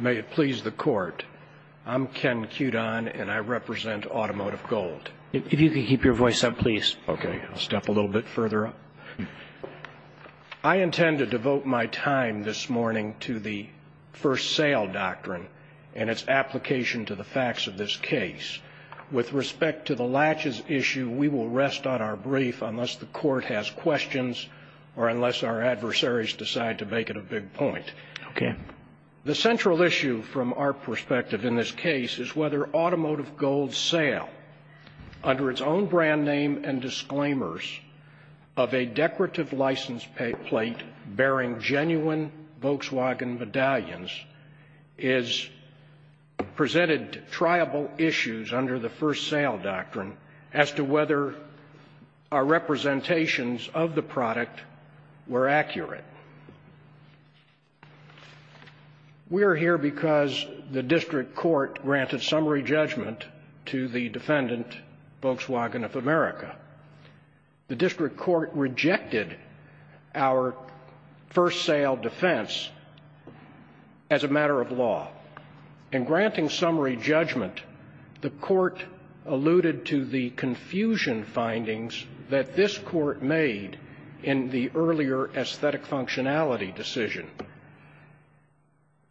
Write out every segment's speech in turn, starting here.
May it please the Court, I'm Ken Cudon, and I represent Automotive Gold. If you could keep your voice up, please. Okay, I'll step a little bit further up. I intend to devote my time this morning to the first sale doctrine and its application to the facts of this case. With respect to the latches issue, we will rest on our brief unless the Court has questions or unless our adversaries decide to make it a big point. Okay. The central issue from our perspective in this case is whether Automotive Gold's sale, under its own brand name and disclaimers, of a decorative license plate bearing genuine Volkswagen medallions, has presented triable issues under the first sale doctrine as to whether our representations of the product were accurate. We are here because the district court granted summary judgment to the defendant, Volkswagen of America. The district court rejected our first sale defense as a matter of law. In granting summary judgment, the Court alluded to the confusion findings that this Court made in the earlier aesthetic functionality decision.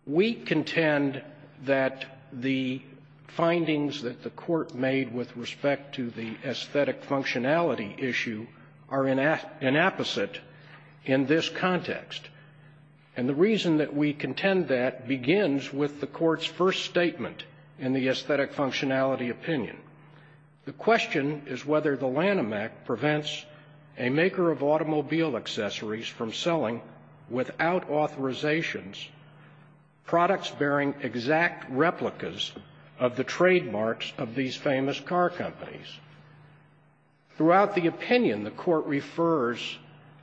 We contend that the findings that the Court made with respect to the aesthetic functionality issue are inapposite in this context. And the reason that we contend that begins with the Court's first statement in the aesthetic functionality opinion. The question is whether the Lanham Act prevents a maker of automobile accessories from selling, without authorizations, products bearing exact replicas of the trademarks of these famous car companies. Throughout the opinion, the Court refers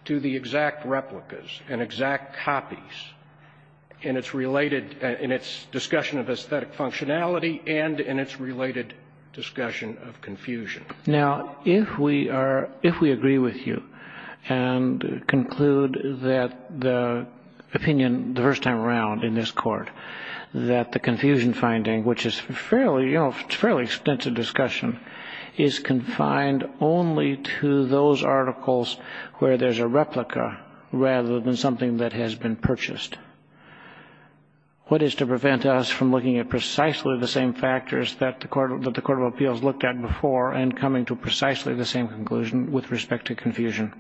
to the exact replicas and exact copies in its related, in its discussion of aesthetic functionality and in its related discussion of confusion. Now, if we are, if we agree with you and conclude that the opinion the first time around in this Court, that the confusion finding, which is fairly, you know, it's a fairly extensive discussion, is confined only to those articles where there's a replica, rather than something that has been purchased, what is to prevent us from looking at precisely the same factors that the Court of Appeals looked at before and coming to precisely the same conclusion with respect to confusion?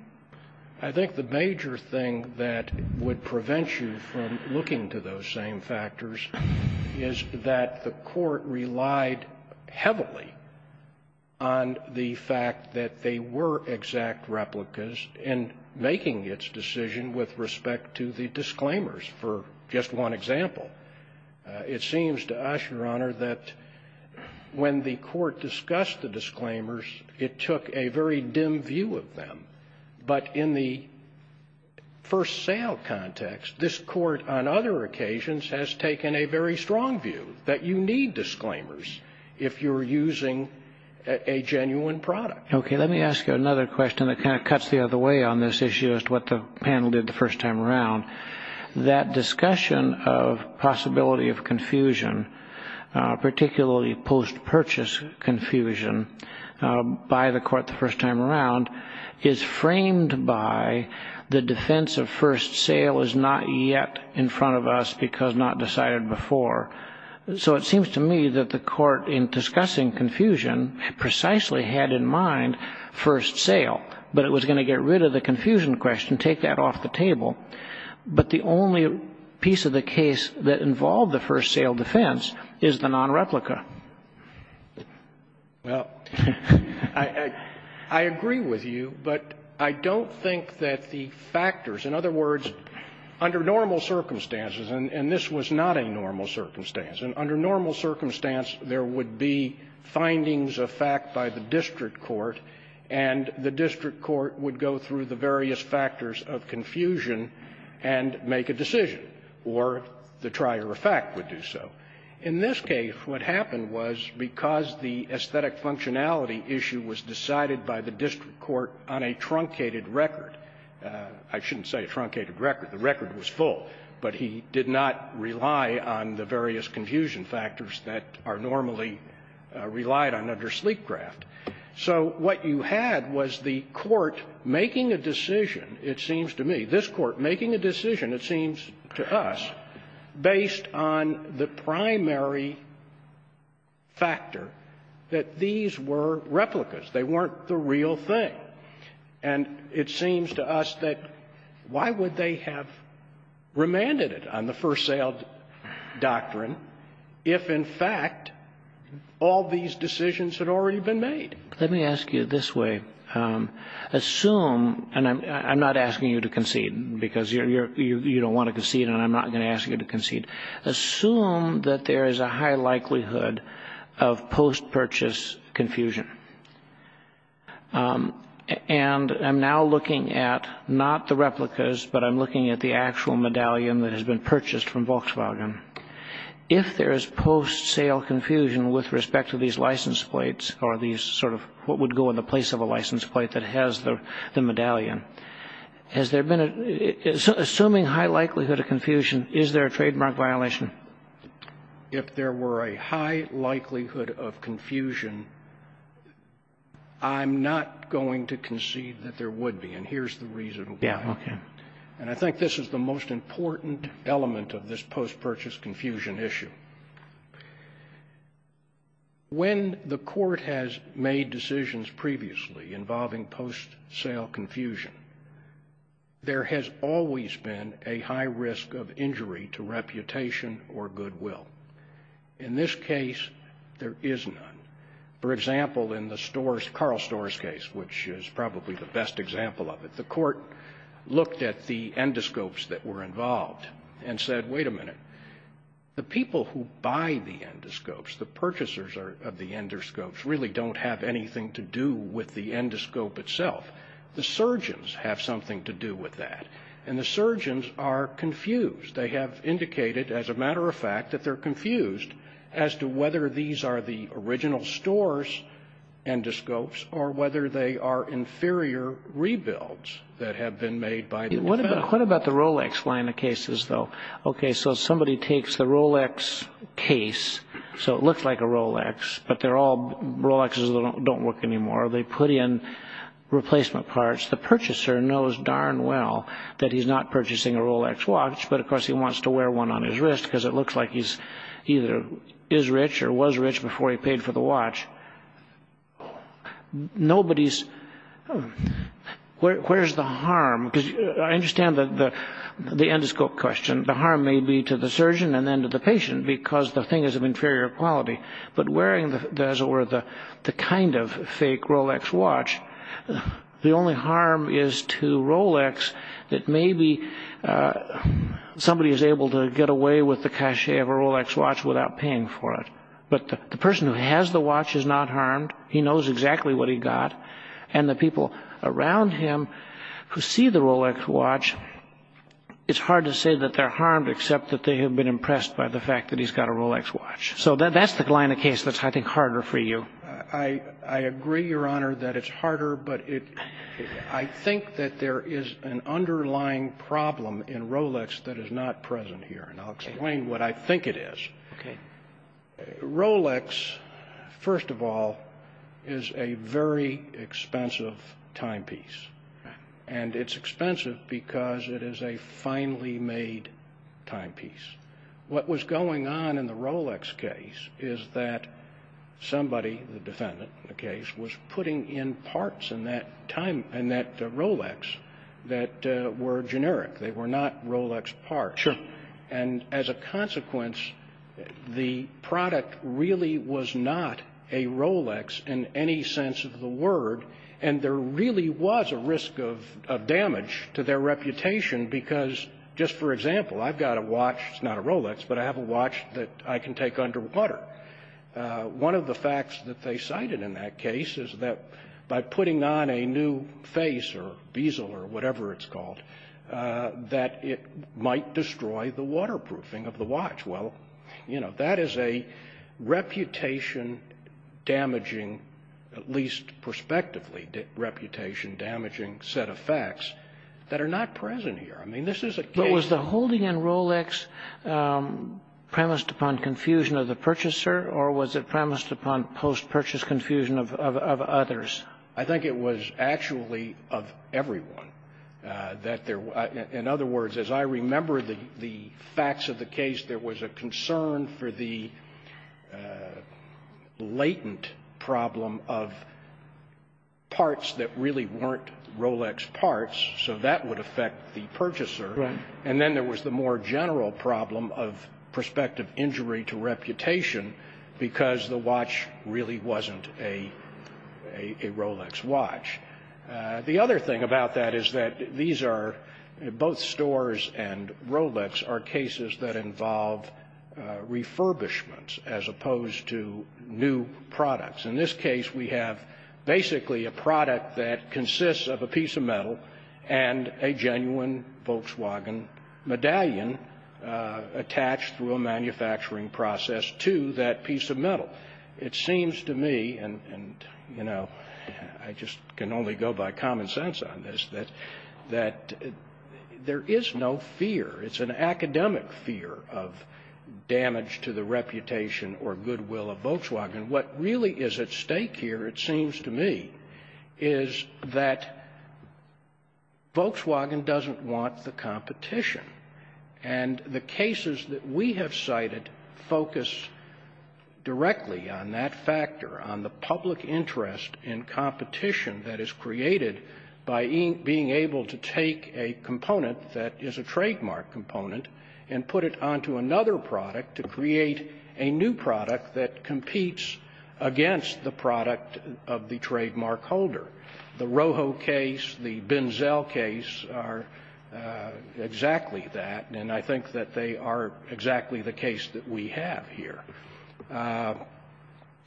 I think the major thing that would prevent you from looking to those same factors is that the Court relied heavily on the fact that they were exact replicas in making its decision with respect to the disclaimers, for just one example. It seems to us, Your Honor, that when the Court discussed the disclaimers, it took a very dim view of them. But in the first sale context, this Court, on other occasions, has taken a very strong view that you need disclaimers if you're using a genuine product. Okay. Let me ask you another question that kind of cuts the other way on this issue as to what the panel did the first time around. That discussion of possibility of confusion, particularly post-purchase confusion, by the Court the first time around, is framed by the defense of first sale is not yet in front of us because not decided before. So it seems to me that the Court, in discussing confusion, precisely had in mind first sale. But it was going to get rid of the confusion question, take that off the table. But the only piece of the case that involved the first sale defense is the non-replica. Well, I agree with you, but I don't think that the factors, in other words, under normal circumstances, and this was not a normal circumstance, and under normal circumstance, there would be findings of fact by the district court, and the district court would go through the various factors of confusion and make a decision, or the trier of fact would do so. In this case, what happened was, because the aesthetic functionality issue was decided by the district court on a truncated record, I shouldn't say a truncated record, the record was full, but he did not rely on the various confusion factors that are normally relied on under Sleekcraft, so what you had was the Court making a decision, it seems to me, this Court making a decision, it seems to us, based on the primary factor that these were replicas. They weren't the real thing. And it seems to us that why would they have remanded it on the first sale doctrine if, in fact, all these decisions had already been made? Let me ask you this way. Assume, and I'm not asking you to concede, because you don't want to concede and I'm not going to ask you to concede. Assume that there is a high likelihood of post-purchase confusion, and I'm now looking at not the replicas, but I'm looking at the actual medallion that has been purchased from Volkswagen. If there is post-sale confusion with respect to these license plates or these sort of what would go in the place of a license plate that has the medallion, has there been a – assuming high likelihood of confusion, is there a trademark violation? If there were a high likelihood of confusion, I'm not going to concede that there would be, and here's the reason why. Yeah, okay. And I think this is the most important element of this post-purchase confusion issue. When the Court has made decisions previously involving post-sale confusion, there has always been a high risk of injury to reputation or goodwill. In this case, there is none. For example, in the Storrs – Carl Storrs case, which is probably the best example of it – the Court looked at the endoscopes that were involved and said, wait a minute, the people who buy the endoscopes, the purchasers of the endoscopes, really don't have anything to do with the endoscope itself. The surgeons have something to do with that, and the surgeons are confused. They have indicated, as a matter of fact, that they're confused as to whether these are the original Storrs endoscopes or whether they are inferior rebuilds that have been made by the defendants. What about the Rolex line of cases, though? Okay, so somebody takes the Rolex case, so it looks like a Rolex, but they're all – Rolexes don't work anymore. They put in replacement parts. The purchaser knows darn well that he's not purchasing a Rolex watch, but of course he wants to wear one on his wrist because it looks like he either is rich or was rich before he paid for the watch. Nobody's – where's the harm? Because I understand that the endoscope question, the harm may be to the surgeon and then to the patient because the thing is of inferior quality. But wearing, as it were, the kind of fake Rolex watch, the only harm is to Rolex that maybe somebody is able to get away with the cachet of a Rolex watch without paying for it. But the person who has the watch is not harmed. He knows exactly what he got. And the people around him who see the Rolex watch, it's hard to say that they're harmed except that they have been impressed by the fact that he's got a Rolex watch. So that's the line of case that's, I think, harder for you. I agree, Your Honor, that it's harder, but I think that there is an underlying problem in Rolex that is not present here, and I'll explain what I think it is. Rolex, first of all, is a very expensive timepiece. And it's expensive because it is a finely made timepiece. What was going on in the Rolex case is that somebody, the defendant in the case, was putting in parts in that Rolex that were generic. They were not Rolex parts. Sure. And as a consequence, the product really was not a Rolex in any sense of the word. And there really was a risk of damage to their reputation because, just for example, I've got a watch, it's not a Rolex, but I have a watch that I can take underwater. One of the facts that they cited in that case is that by putting on a new face or bezel or whatever it's called, that it might destroy the waterproofing of the watch. Well, you know, that is a reputation-damaging, at least prospectively, reputation-damaging set of facts that are not present here. I mean, this is a case of ---- Was putting in Rolex premised upon confusion of the purchaser, or was it premised upon post-purchase confusion of others? I think it was actually of everyone, that there was ---- in other words, as I remember the facts of the case, there was a concern for the latent problem of parts that really weren't Rolex parts, so that would affect the purchaser. Right. And then there was the more general problem of prospective injury to reputation because the watch really wasn't a Rolex watch. The other thing about that is that these are, both Storrs and Rolex, are cases that involve refurbishments as opposed to new products. In this case, we have basically a product that consists of a piece of metal and a genuine Volkswagen medallion attached through a manufacturing process to that piece of metal. It seems to me, and, you know, I just can only go by common sense on this, that there is no fear. It's an academic fear of damage to the reputation or goodwill of Volkswagen. What really is at stake here, it seems to me, is that Volkswagen doesn't want the competition. And the cases that we have cited focus directly on that factor, on the public interest in competition that is created by being able to take a component that is a trademark component and put it onto another product to create a new product that competes against the product of the trademark holder. The Rojo case, the Benzel case are exactly that, and I think that they are exactly the case that we have here.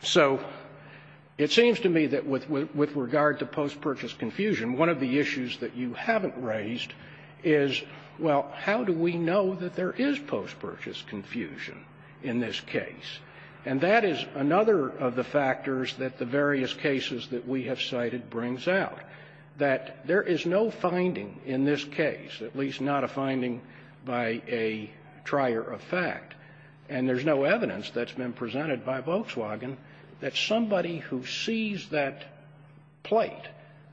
So it seems to me that with regard to post-purchase confusion, one of the issues that you haven't raised is, well, how do we know that there is post-purchase confusion in this case? And that is another of the factors that the various cases that we have cited brings out, that there is no finding in this case, at least not a finding by a trier of fact, and there's no evidence that's been presented by Volkswagen that somebody who sees that plate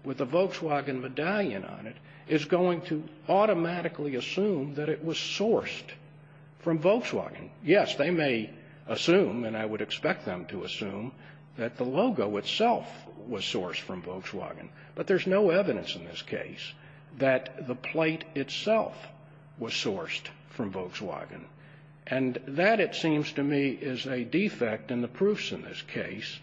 with a Volkswagen medallion on it is going to automatically assume that it was sourced from Volkswagen. Yes, they may assume, and I would expect them to assume, that the logo itself was sourced from Volkswagen, but there's no evidence in this case that the plate itself was sourced from Volkswagen. And that, it seems to me, is a defect in the proofs in this case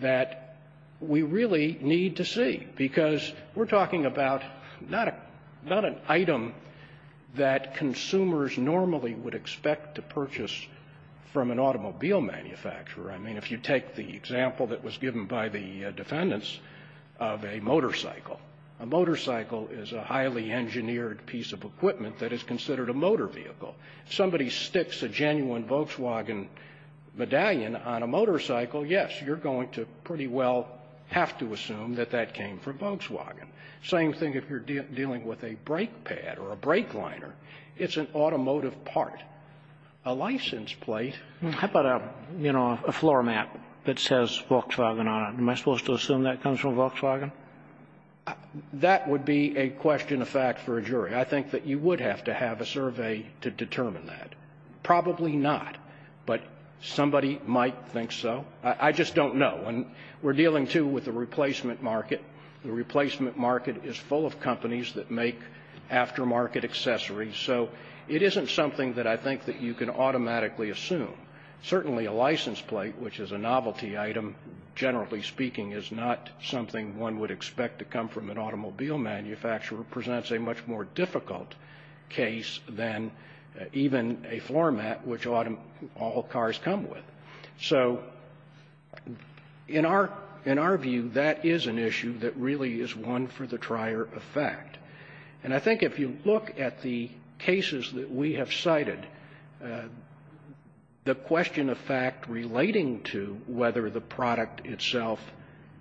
that we really need to see, because we're talking about not a – not an item that consumers normally would expect to purchase from an automobile manufacturer. I mean, if you take the example that was given by the defendants of a motorcycle, a motorcycle is a highly engineered piece of equipment that is considered a motor vehicle. If somebody sticks a genuine Volkswagen medallion on a motorcycle, yes, you're going to pretty well have to assume that that came from Volkswagen. Same thing if you're dealing with a brake pad or a brake liner. It's an automotive part. A license plate – How about a, you know, a floor mat that says Volkswagen on it? Am I supposed to assume that comes from Volkswagen? That would be a question of fact for a jury. I think that you would have to have a survey to determine that. Probably not, but somebody might think so. I just don't know. And we're dealing, too, with the replacement market. The replacement market is full of companies that make aftermarket accessories, so it isn't something that I think that you can automatically assume. Certainly, a license plate, which is a novelty item, generally speaking, is not something one would expect to come from an automobile manufacturer, presents a much more difficult case than even a floor mat, which all cars come with. So in our view, that is an issue that really is one for the trier of fact. And I think if you look at the cases that we have cited, the question of fact relating to whether the product itself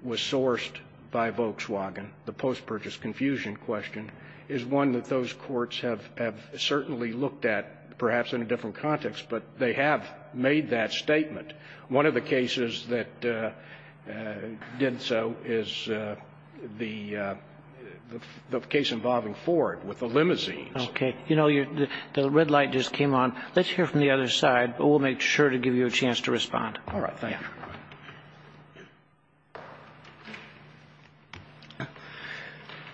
was sourced by Volkswagen, the post-purchase confusion question, is one that those courts have certainly looked at, perhaps in a different context, but they have made that statement. One of the cases that did so is the case involving Ford with the limousines. Okay. You know, the red light just came on. Let's hear from the other side, but we'll make sure to give you a chance to respond. All right. Thank you.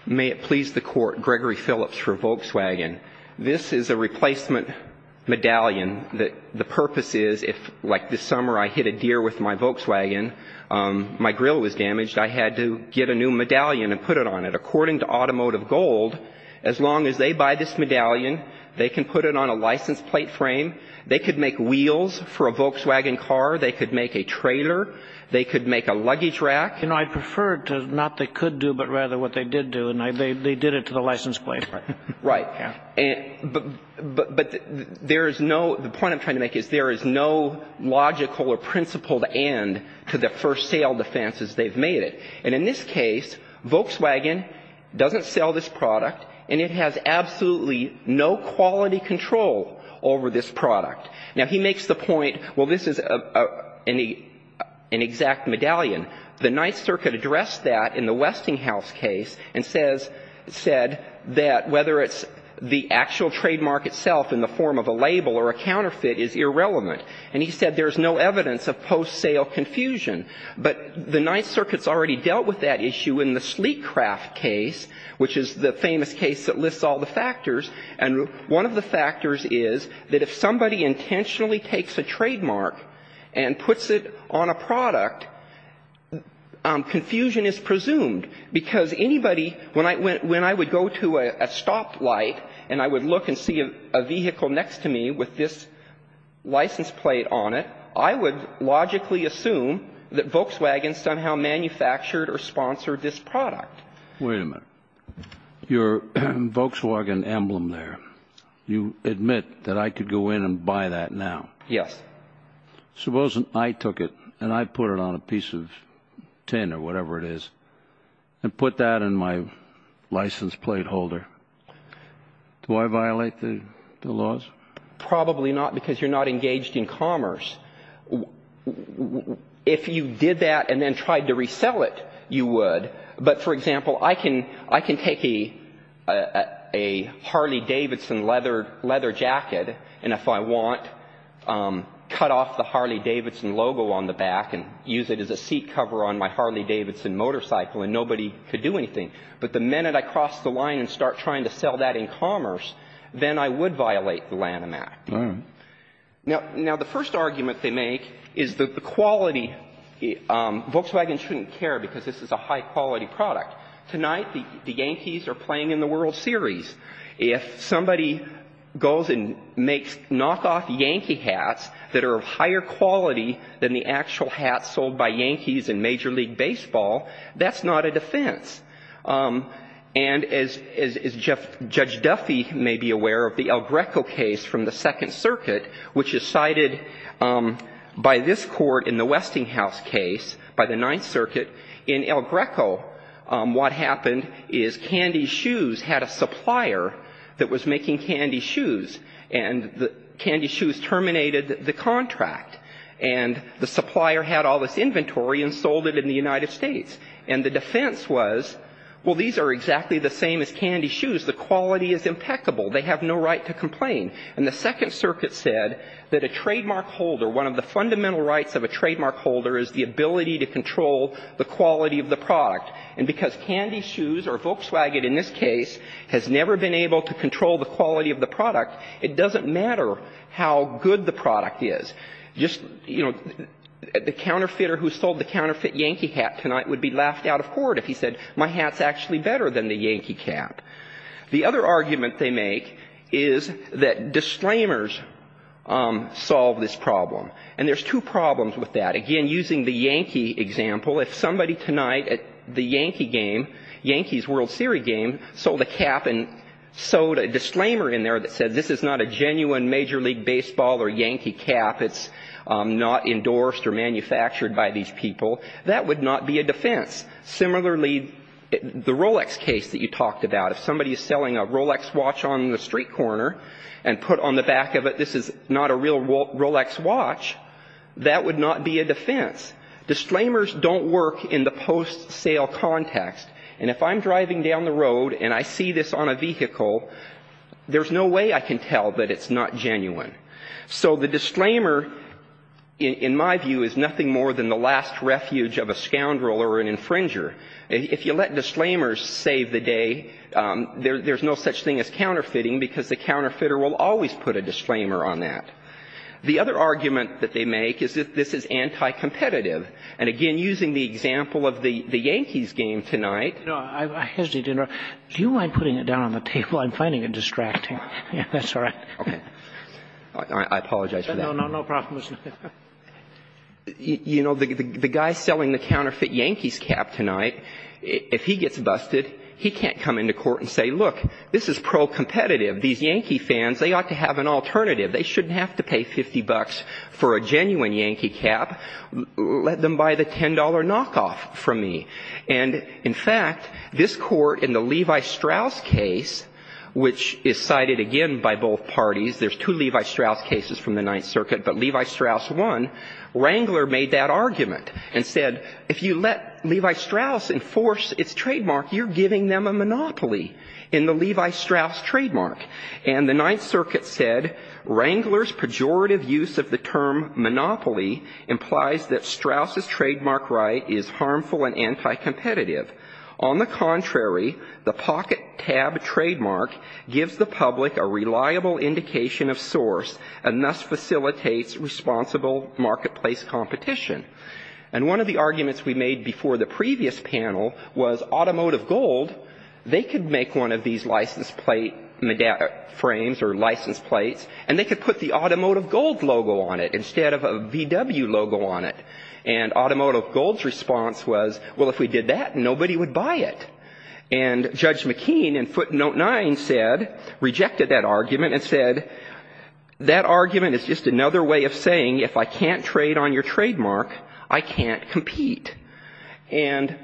May it please the Court. Gregory Phillips for Volkswagen. This is a replacement medallion. The purpose is if, like this summer, I hit a deer with my Volkswagen, my grill was damaged, I had to get a new medallion and put it on it. According to Automotive Gold, as long as they buy this medallion, they can put it on a license plate frame, they could make wheels for a Volkswagen car, they could make a trailer, they could make a luggage rack. You know, I'd prefer to not they could do, but rather what they did do, and they did it to the license plate. Right. Yeah. But there is no, the point I'm trying to make is there is no logical or principled end to the first sale defense as they've made it. And in this case, Volkswagen doesn't sell this product, and it has absolutely no quality control over this product. Now, he makes the point, well, this is an exact medallion. The Ninth Circuit addressed that in the Westinghouse case and says, said that whether it's the actual trademark itself in the form of a label or a counterfeit is irrelevant. And he said there's no evidence of post-sale confusion. But the Ninth Circuit's already dealt with that issue in the Sleecraft case, which is the famous case that lists all the factors. And one of the factors is that if somebody intentionally takes a trademark and puts it on a product, confusion is presumed. Because anybody, when I would go to a stoplight and I would look and see a vehicle next to me with this license plate on it, I would logically assume that Volkswagen somehow manufactured or sponsored this product. Wait a minute. Your Volkswagen emblem there, you admit that I could go in and buy that now. Yes. Suppose I took it and I put it on a piece of tin or whatever it is and put that in my license plate holder. Do I violate the laws? Probably not, because you're not engaged in commerce. If you did that and then tried to resell it, you would. But, for example, I can take a Harley-Davidson leather jacket and if I want, cut off the Harley-Davidson logo on the back and use it as a seat cover on my Harley-Davidson motorcycle and nobody could do anything. But the minute I cross the line and start trying to sell that in commerce, then I would violate the Lanham Act. Now, the first argument they make is that the quality, Volkswagen shouldn't care because this is a high-quality product. Tonight, the Yankees are playing in the World Series. If somebody goes and makes knock-off Yankee hats that are of higher quality than the actual hats sold by Yankees in Major League Baseball, that's not a defense. And as Judge Duffy may be aware of the El Greco case from the Second Circuit, which is cited by this court in the Westinghouse case, by the Ninth Circuit, in El Greco, what happened is Candy Shoes had a supplier that was making Candy Shoes and Candy Shoes terminated the contract. And the supplier had all this inventory and sold it in the United States. And the defense was, well, these are exactly the same as Candy Shoes. The quality is impeccable. They have no right to complain. And the Second Circuit said that a trademark holder, one of the fundamental rights of a trademark holder is the ability to control the quality of the product. And because Candy Shoes, or Volkswagen in this case, has never been able to control the quality of the product, it doesn't matter how good the product is. Just, you know, the counterfeiter who sold the counterfeit Yankee hat tonight would be laughed out of court if he said, my hat's actually better than the Yankee cap. The other argument they make is that disclaimers solve this problem. And there's two problems with that. Again, using the Yankee example, if somebody tonight at the Yankee game, Yankees World Series game, sold a cap and sewed a disclaimer in there that said, this is not a defense, not endorsed or manufactured by these people, that would not be a defense. Similarly, the Rolex case that you talked about, if somebody is selling a Rolex watch on the street corner and put on the back of it, this is not a real Rolex watch, that would not be a defense. Disclaimers don't work in the post-sale context. And if I'm driving down the road and I see this on a vehicle, there's no way I can tell that it's not genuine. So the disclaimer, in my view, is nothing more than the last refuge of a scoundrel or an infringer. If you let disclaimers save the day, there's no such thing as counterfeiting, because the counterfeiter will always put a disclaimer on that. The other argument that they make is that this is anti-competitive. And again, using the example of the Yankees game tonight. No, I hesitate to interrupt. Do you mind putting it down on the table? I'm finding it distracting. That's all right. Okay. I apologize for that. No, no, no problem. You know, the guy selling the counterfeit Yankees cap tonight, if he gets busted, he can't come into court and say, look, this is pro-competitive. These Yankee fans, they ought to have an alternative. They shouldn't have to pay 50 bucks for a genuine Yankee cap. Let them buy the $10 knockoff from me. And in fact, this court in the Levi Strauss case, which is cited again by both parties, there's two Levi Strauss cases from the Ninth Circuit, but Levi Strauss won. Wrangler made that argument and said, if you let Levi Strauss enforce its trademark, you're giving them a monopoly in the Levi Strauss trademark. And the Ninth Circuit said, Wrangler's pejorative use of the term monopoly implies that Strauss's trademark right is harmful and anti-competitive. On the contrary, the pocket tab trademark gives the public a reliable indication of source and thus facilitates responsible marketplace competition. And one of the arguments we made before the previous panel was Automotive Gold, they could make one of these license plate frames or license plates and they could put the Automotive Gold logo on it instead of a VW logo on it. And Automotive Gold's response was, well, if we did that, nobody would buy it. And Judge McKean in footnote 9 said, rejected that argument and said, that argument is just another way of saying if I can't trade on your trademark, I can't compete. And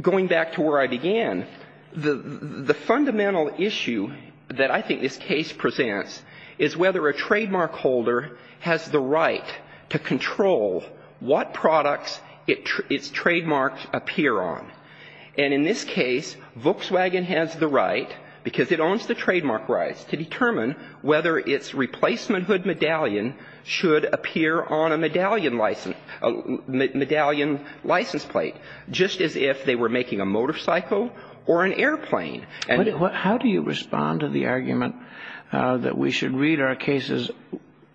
going back to where I began, the fundamental issue that I think this case presents is whether a trademark holder has the right to control what products its trademarks appear on. And in this case, Volkswagen has the right, because it owns the trademark rights, to determine whether its replacement hood medallion should appear on a medallion license, a medallion license plate, just as if they were making a motorcycle or an airplane. How do you respond to the argument that we should read our cases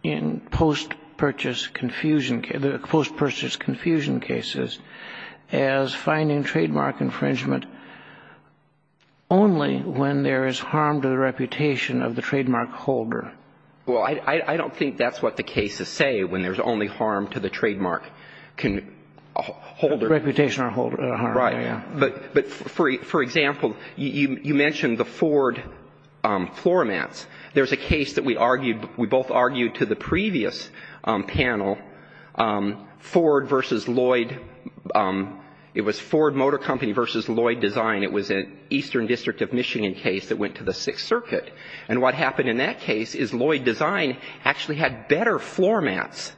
in post-purchase confusion, post-purchase confusion cases as finding trademark infringement only when there is harm to the reputation of the trademark holder? Well, I don't think that's what the cases say, when there's only harm to the trademark holder. Reputation or harm. Right. But for example, you mentioned the Ford floor mats. There's a case that we argued, we both argued to the previous panel, Ford versus Lloyd, it was Ford Motor Company versus Lloyd Design. It was an Eastern District of Michigan case that went to the Sixth Circuit. And what happened in that case is Lloyd Design actually had better floor mats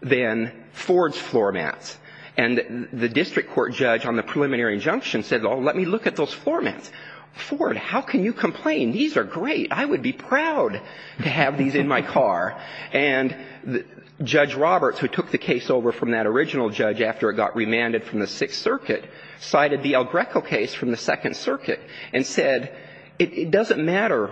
than Ford's floor mats. And the district court judge on the preliminary injunction said, oh, let me look at those floor mats. Ford, how can you complain? These are great. I would be proud to have these in my car. And Judge Roberts, who took the case over from that original judge after it got remanded from the Sixth Circuit, cited the El Greco case from the Second Circuit and said, it doesn't matter,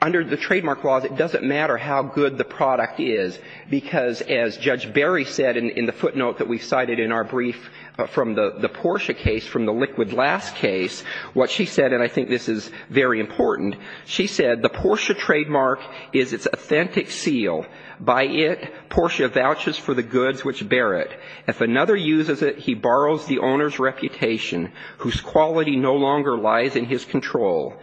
under the trademark laws, it doesn't matter how good the product is, because as Judge Berry said in the footnote that we cited in our brief from the Porsche case, from the liquid last case, what she said, and I think this is very important, she said, the Porsche trademark is its authentic seal. By it, Porsche vouches for the goods which bear it. If another uses it, he borrows the owner's reputation, whose quality no longer lies in his control.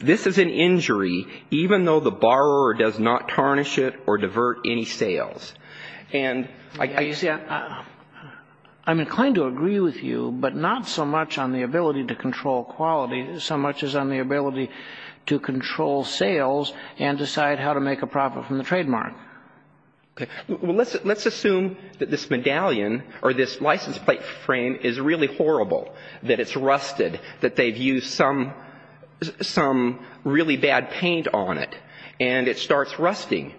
This is an injury, even though the borrower does not tarnish it or divert any sales. And you see, I'm inclined to agree with you, but not so much on the ability to control quality, so much as on the ability to control sales and decide how to make a profit from the trademark. Okay. Well, let's assume that this medallion or this license plate frame is really horrible, that it's rusted, that they've used some really bad paint on it, and it starts rusting.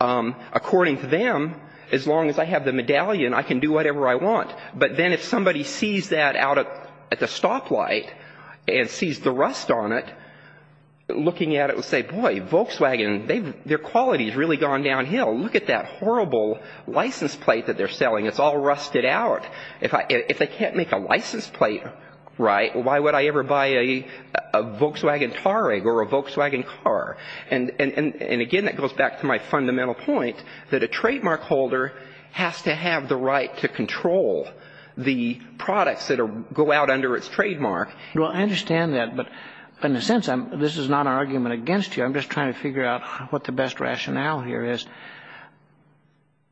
According to them, as long as I have the medallion, I can do whatever I want. But then if somebody sees that out at the stoplight and sees the rust on it, looking at it will say, boy, Volkswagen, their quality has really gone downhill. Look at that horrible license plate that they're selling. It's all rusted out. If they can't make a license plate right, why would I ever buy a Volkswagen Tarig or a Volkswagen car? And again, that goes back to my fundamental point that a trademark holder has to have the right to control the products that go out under its trademark. Well, I understand that, but in a sense, this is not an argument against you. I'm just trying to figure out what the best rationale here is.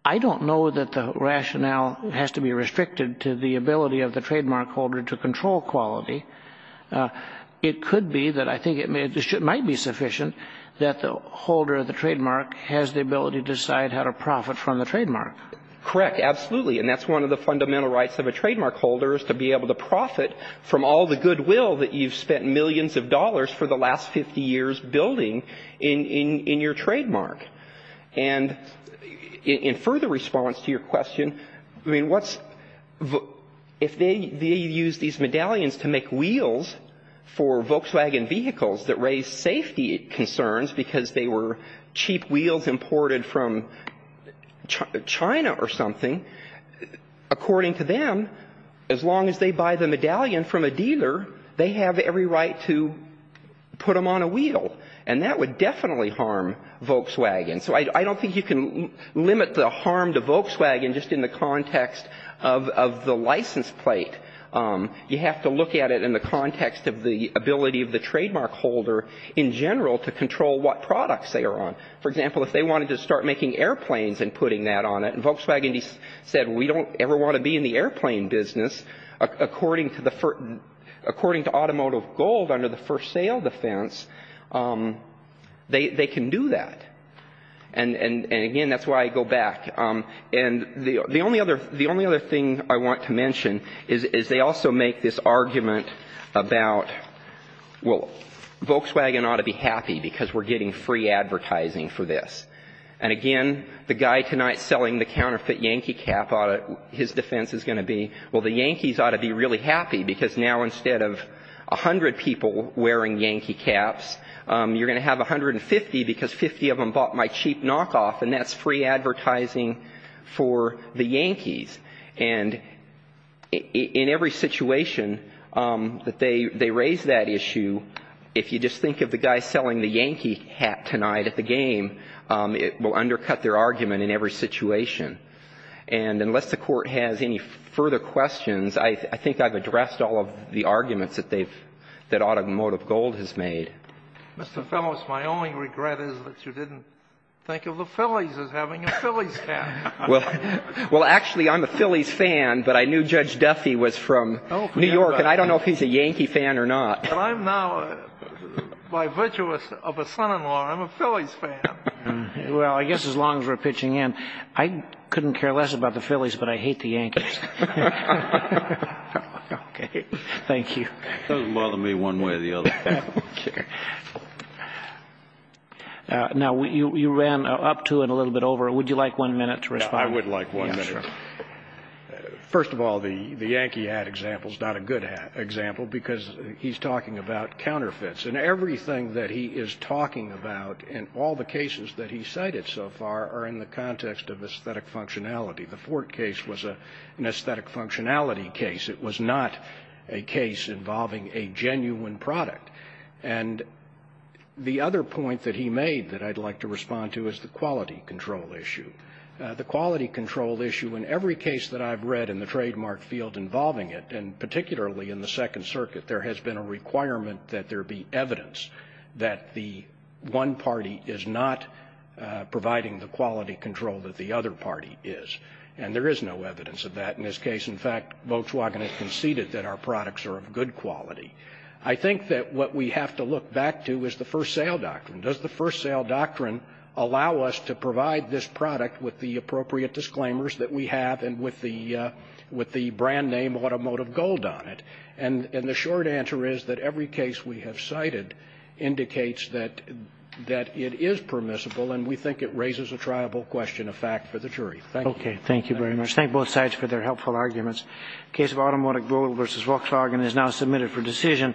I don't know that the rationale has to be restricted to the ability of the trademark holder to control quality. It could be that I think it might be sufficient that the holder of the trademark has the ability to decide how to profit from the trademark. Correct, absolutely. And that's one of the fundamental rights of a trademark holder, is to be able to profit from all the goodwill that you've spent millions of dollars for the last 50 years building in your trademark. And in further response to your question, I mean, if they use these medallions to make wheels for Volkswagen vehicles that raise safety concerns because they were cheap wheels imported from China or something, according to them, as long as they buy the medallion from a dealer, they have every right to put them on a wheel. And that would definitely harm Volkswagen. So I don't think you can limit the harm to Volkswagen just in the context of the license plate. You have to look at it in the context of the ability of the trademark holder in general to control what products they are on. For example, if they wanted to start making airplanes and putting that on it, and Volkswagen said, we don't ever want to be in the airplane business, according to automotive gold under the first sale defense, they can do that. And again, that's why I go back. And the only other thing I want to mention is they also make this argument about, well, Volkswagen ought to be happy because we're getting free advertising for this. And again, the guy tonight selling the counterfeit Yankee cap, his defense is going to be, well, the Yankees ought to be really happy because now instead of 100 people wearing Yankee caps, you're going to have 150 because 50 of them bought my cheap knockoff, and that's free advertising for the Yankees. And in every situation that they raise that issue, if you just think of the guy selling the Yankee hat tonight at the game, it will undercut their argument in every situation. And unless the court has any further questions, I think I've addressed all of the arguments that automotive gold has made. Mr. Phelous, my only regret is that you didn't think of the Phillies as having a Phillies cap. Well, actually, I'm a Phillies fan, but I knew Judge Duffy was from New York, and I don't know if he's a Yankee fan or not. But I'm now, by virtuous of a son-in-law, I'm a Phillies fan. Well, I guess as long as we're pitching in. I couldn't care less about the Phillies, but I hate the Yankees. Thank you. It doesn't bother me one way or the other. Now, you ran up to and a little bit over. Would you like one minute to respond? I would like one minute. First of all, the Yankee hat example is not a good example because he's talking about counterfeits. And everything that he is talking about and all the cases that he cited so far are in the context of aesthetic functionality. The Ford case was an aesthetic functionality case. It was not a case involving a genuine product. And the other point that he made that I'd like to respond to is the quality control issue. The quality control issue, in every case that I've read in the trademark field involving it, and particularly in the Second Circuit, there has been a requirement that there be evidence that the one party is not providing the quality control that the other party is. And there is no evidence of that in this case. In fact, Volkswagen has conceded that our products are of good quality. I think that what we have to look back to is the first sale doctrine. Does the first sale doctrine allow us to provide this product with the appropriate disclaimers that we have and with the brand name Automotive Gold on it? And the short answer is that every case we have cited indicates that it is permissible and we think it raises a triable question of fact for the jury. Thank you. Okay, thank you very much. Thank both sides for their helpful arguments. The case of Automotive Gold v. Volkswagen is now submitted for decision.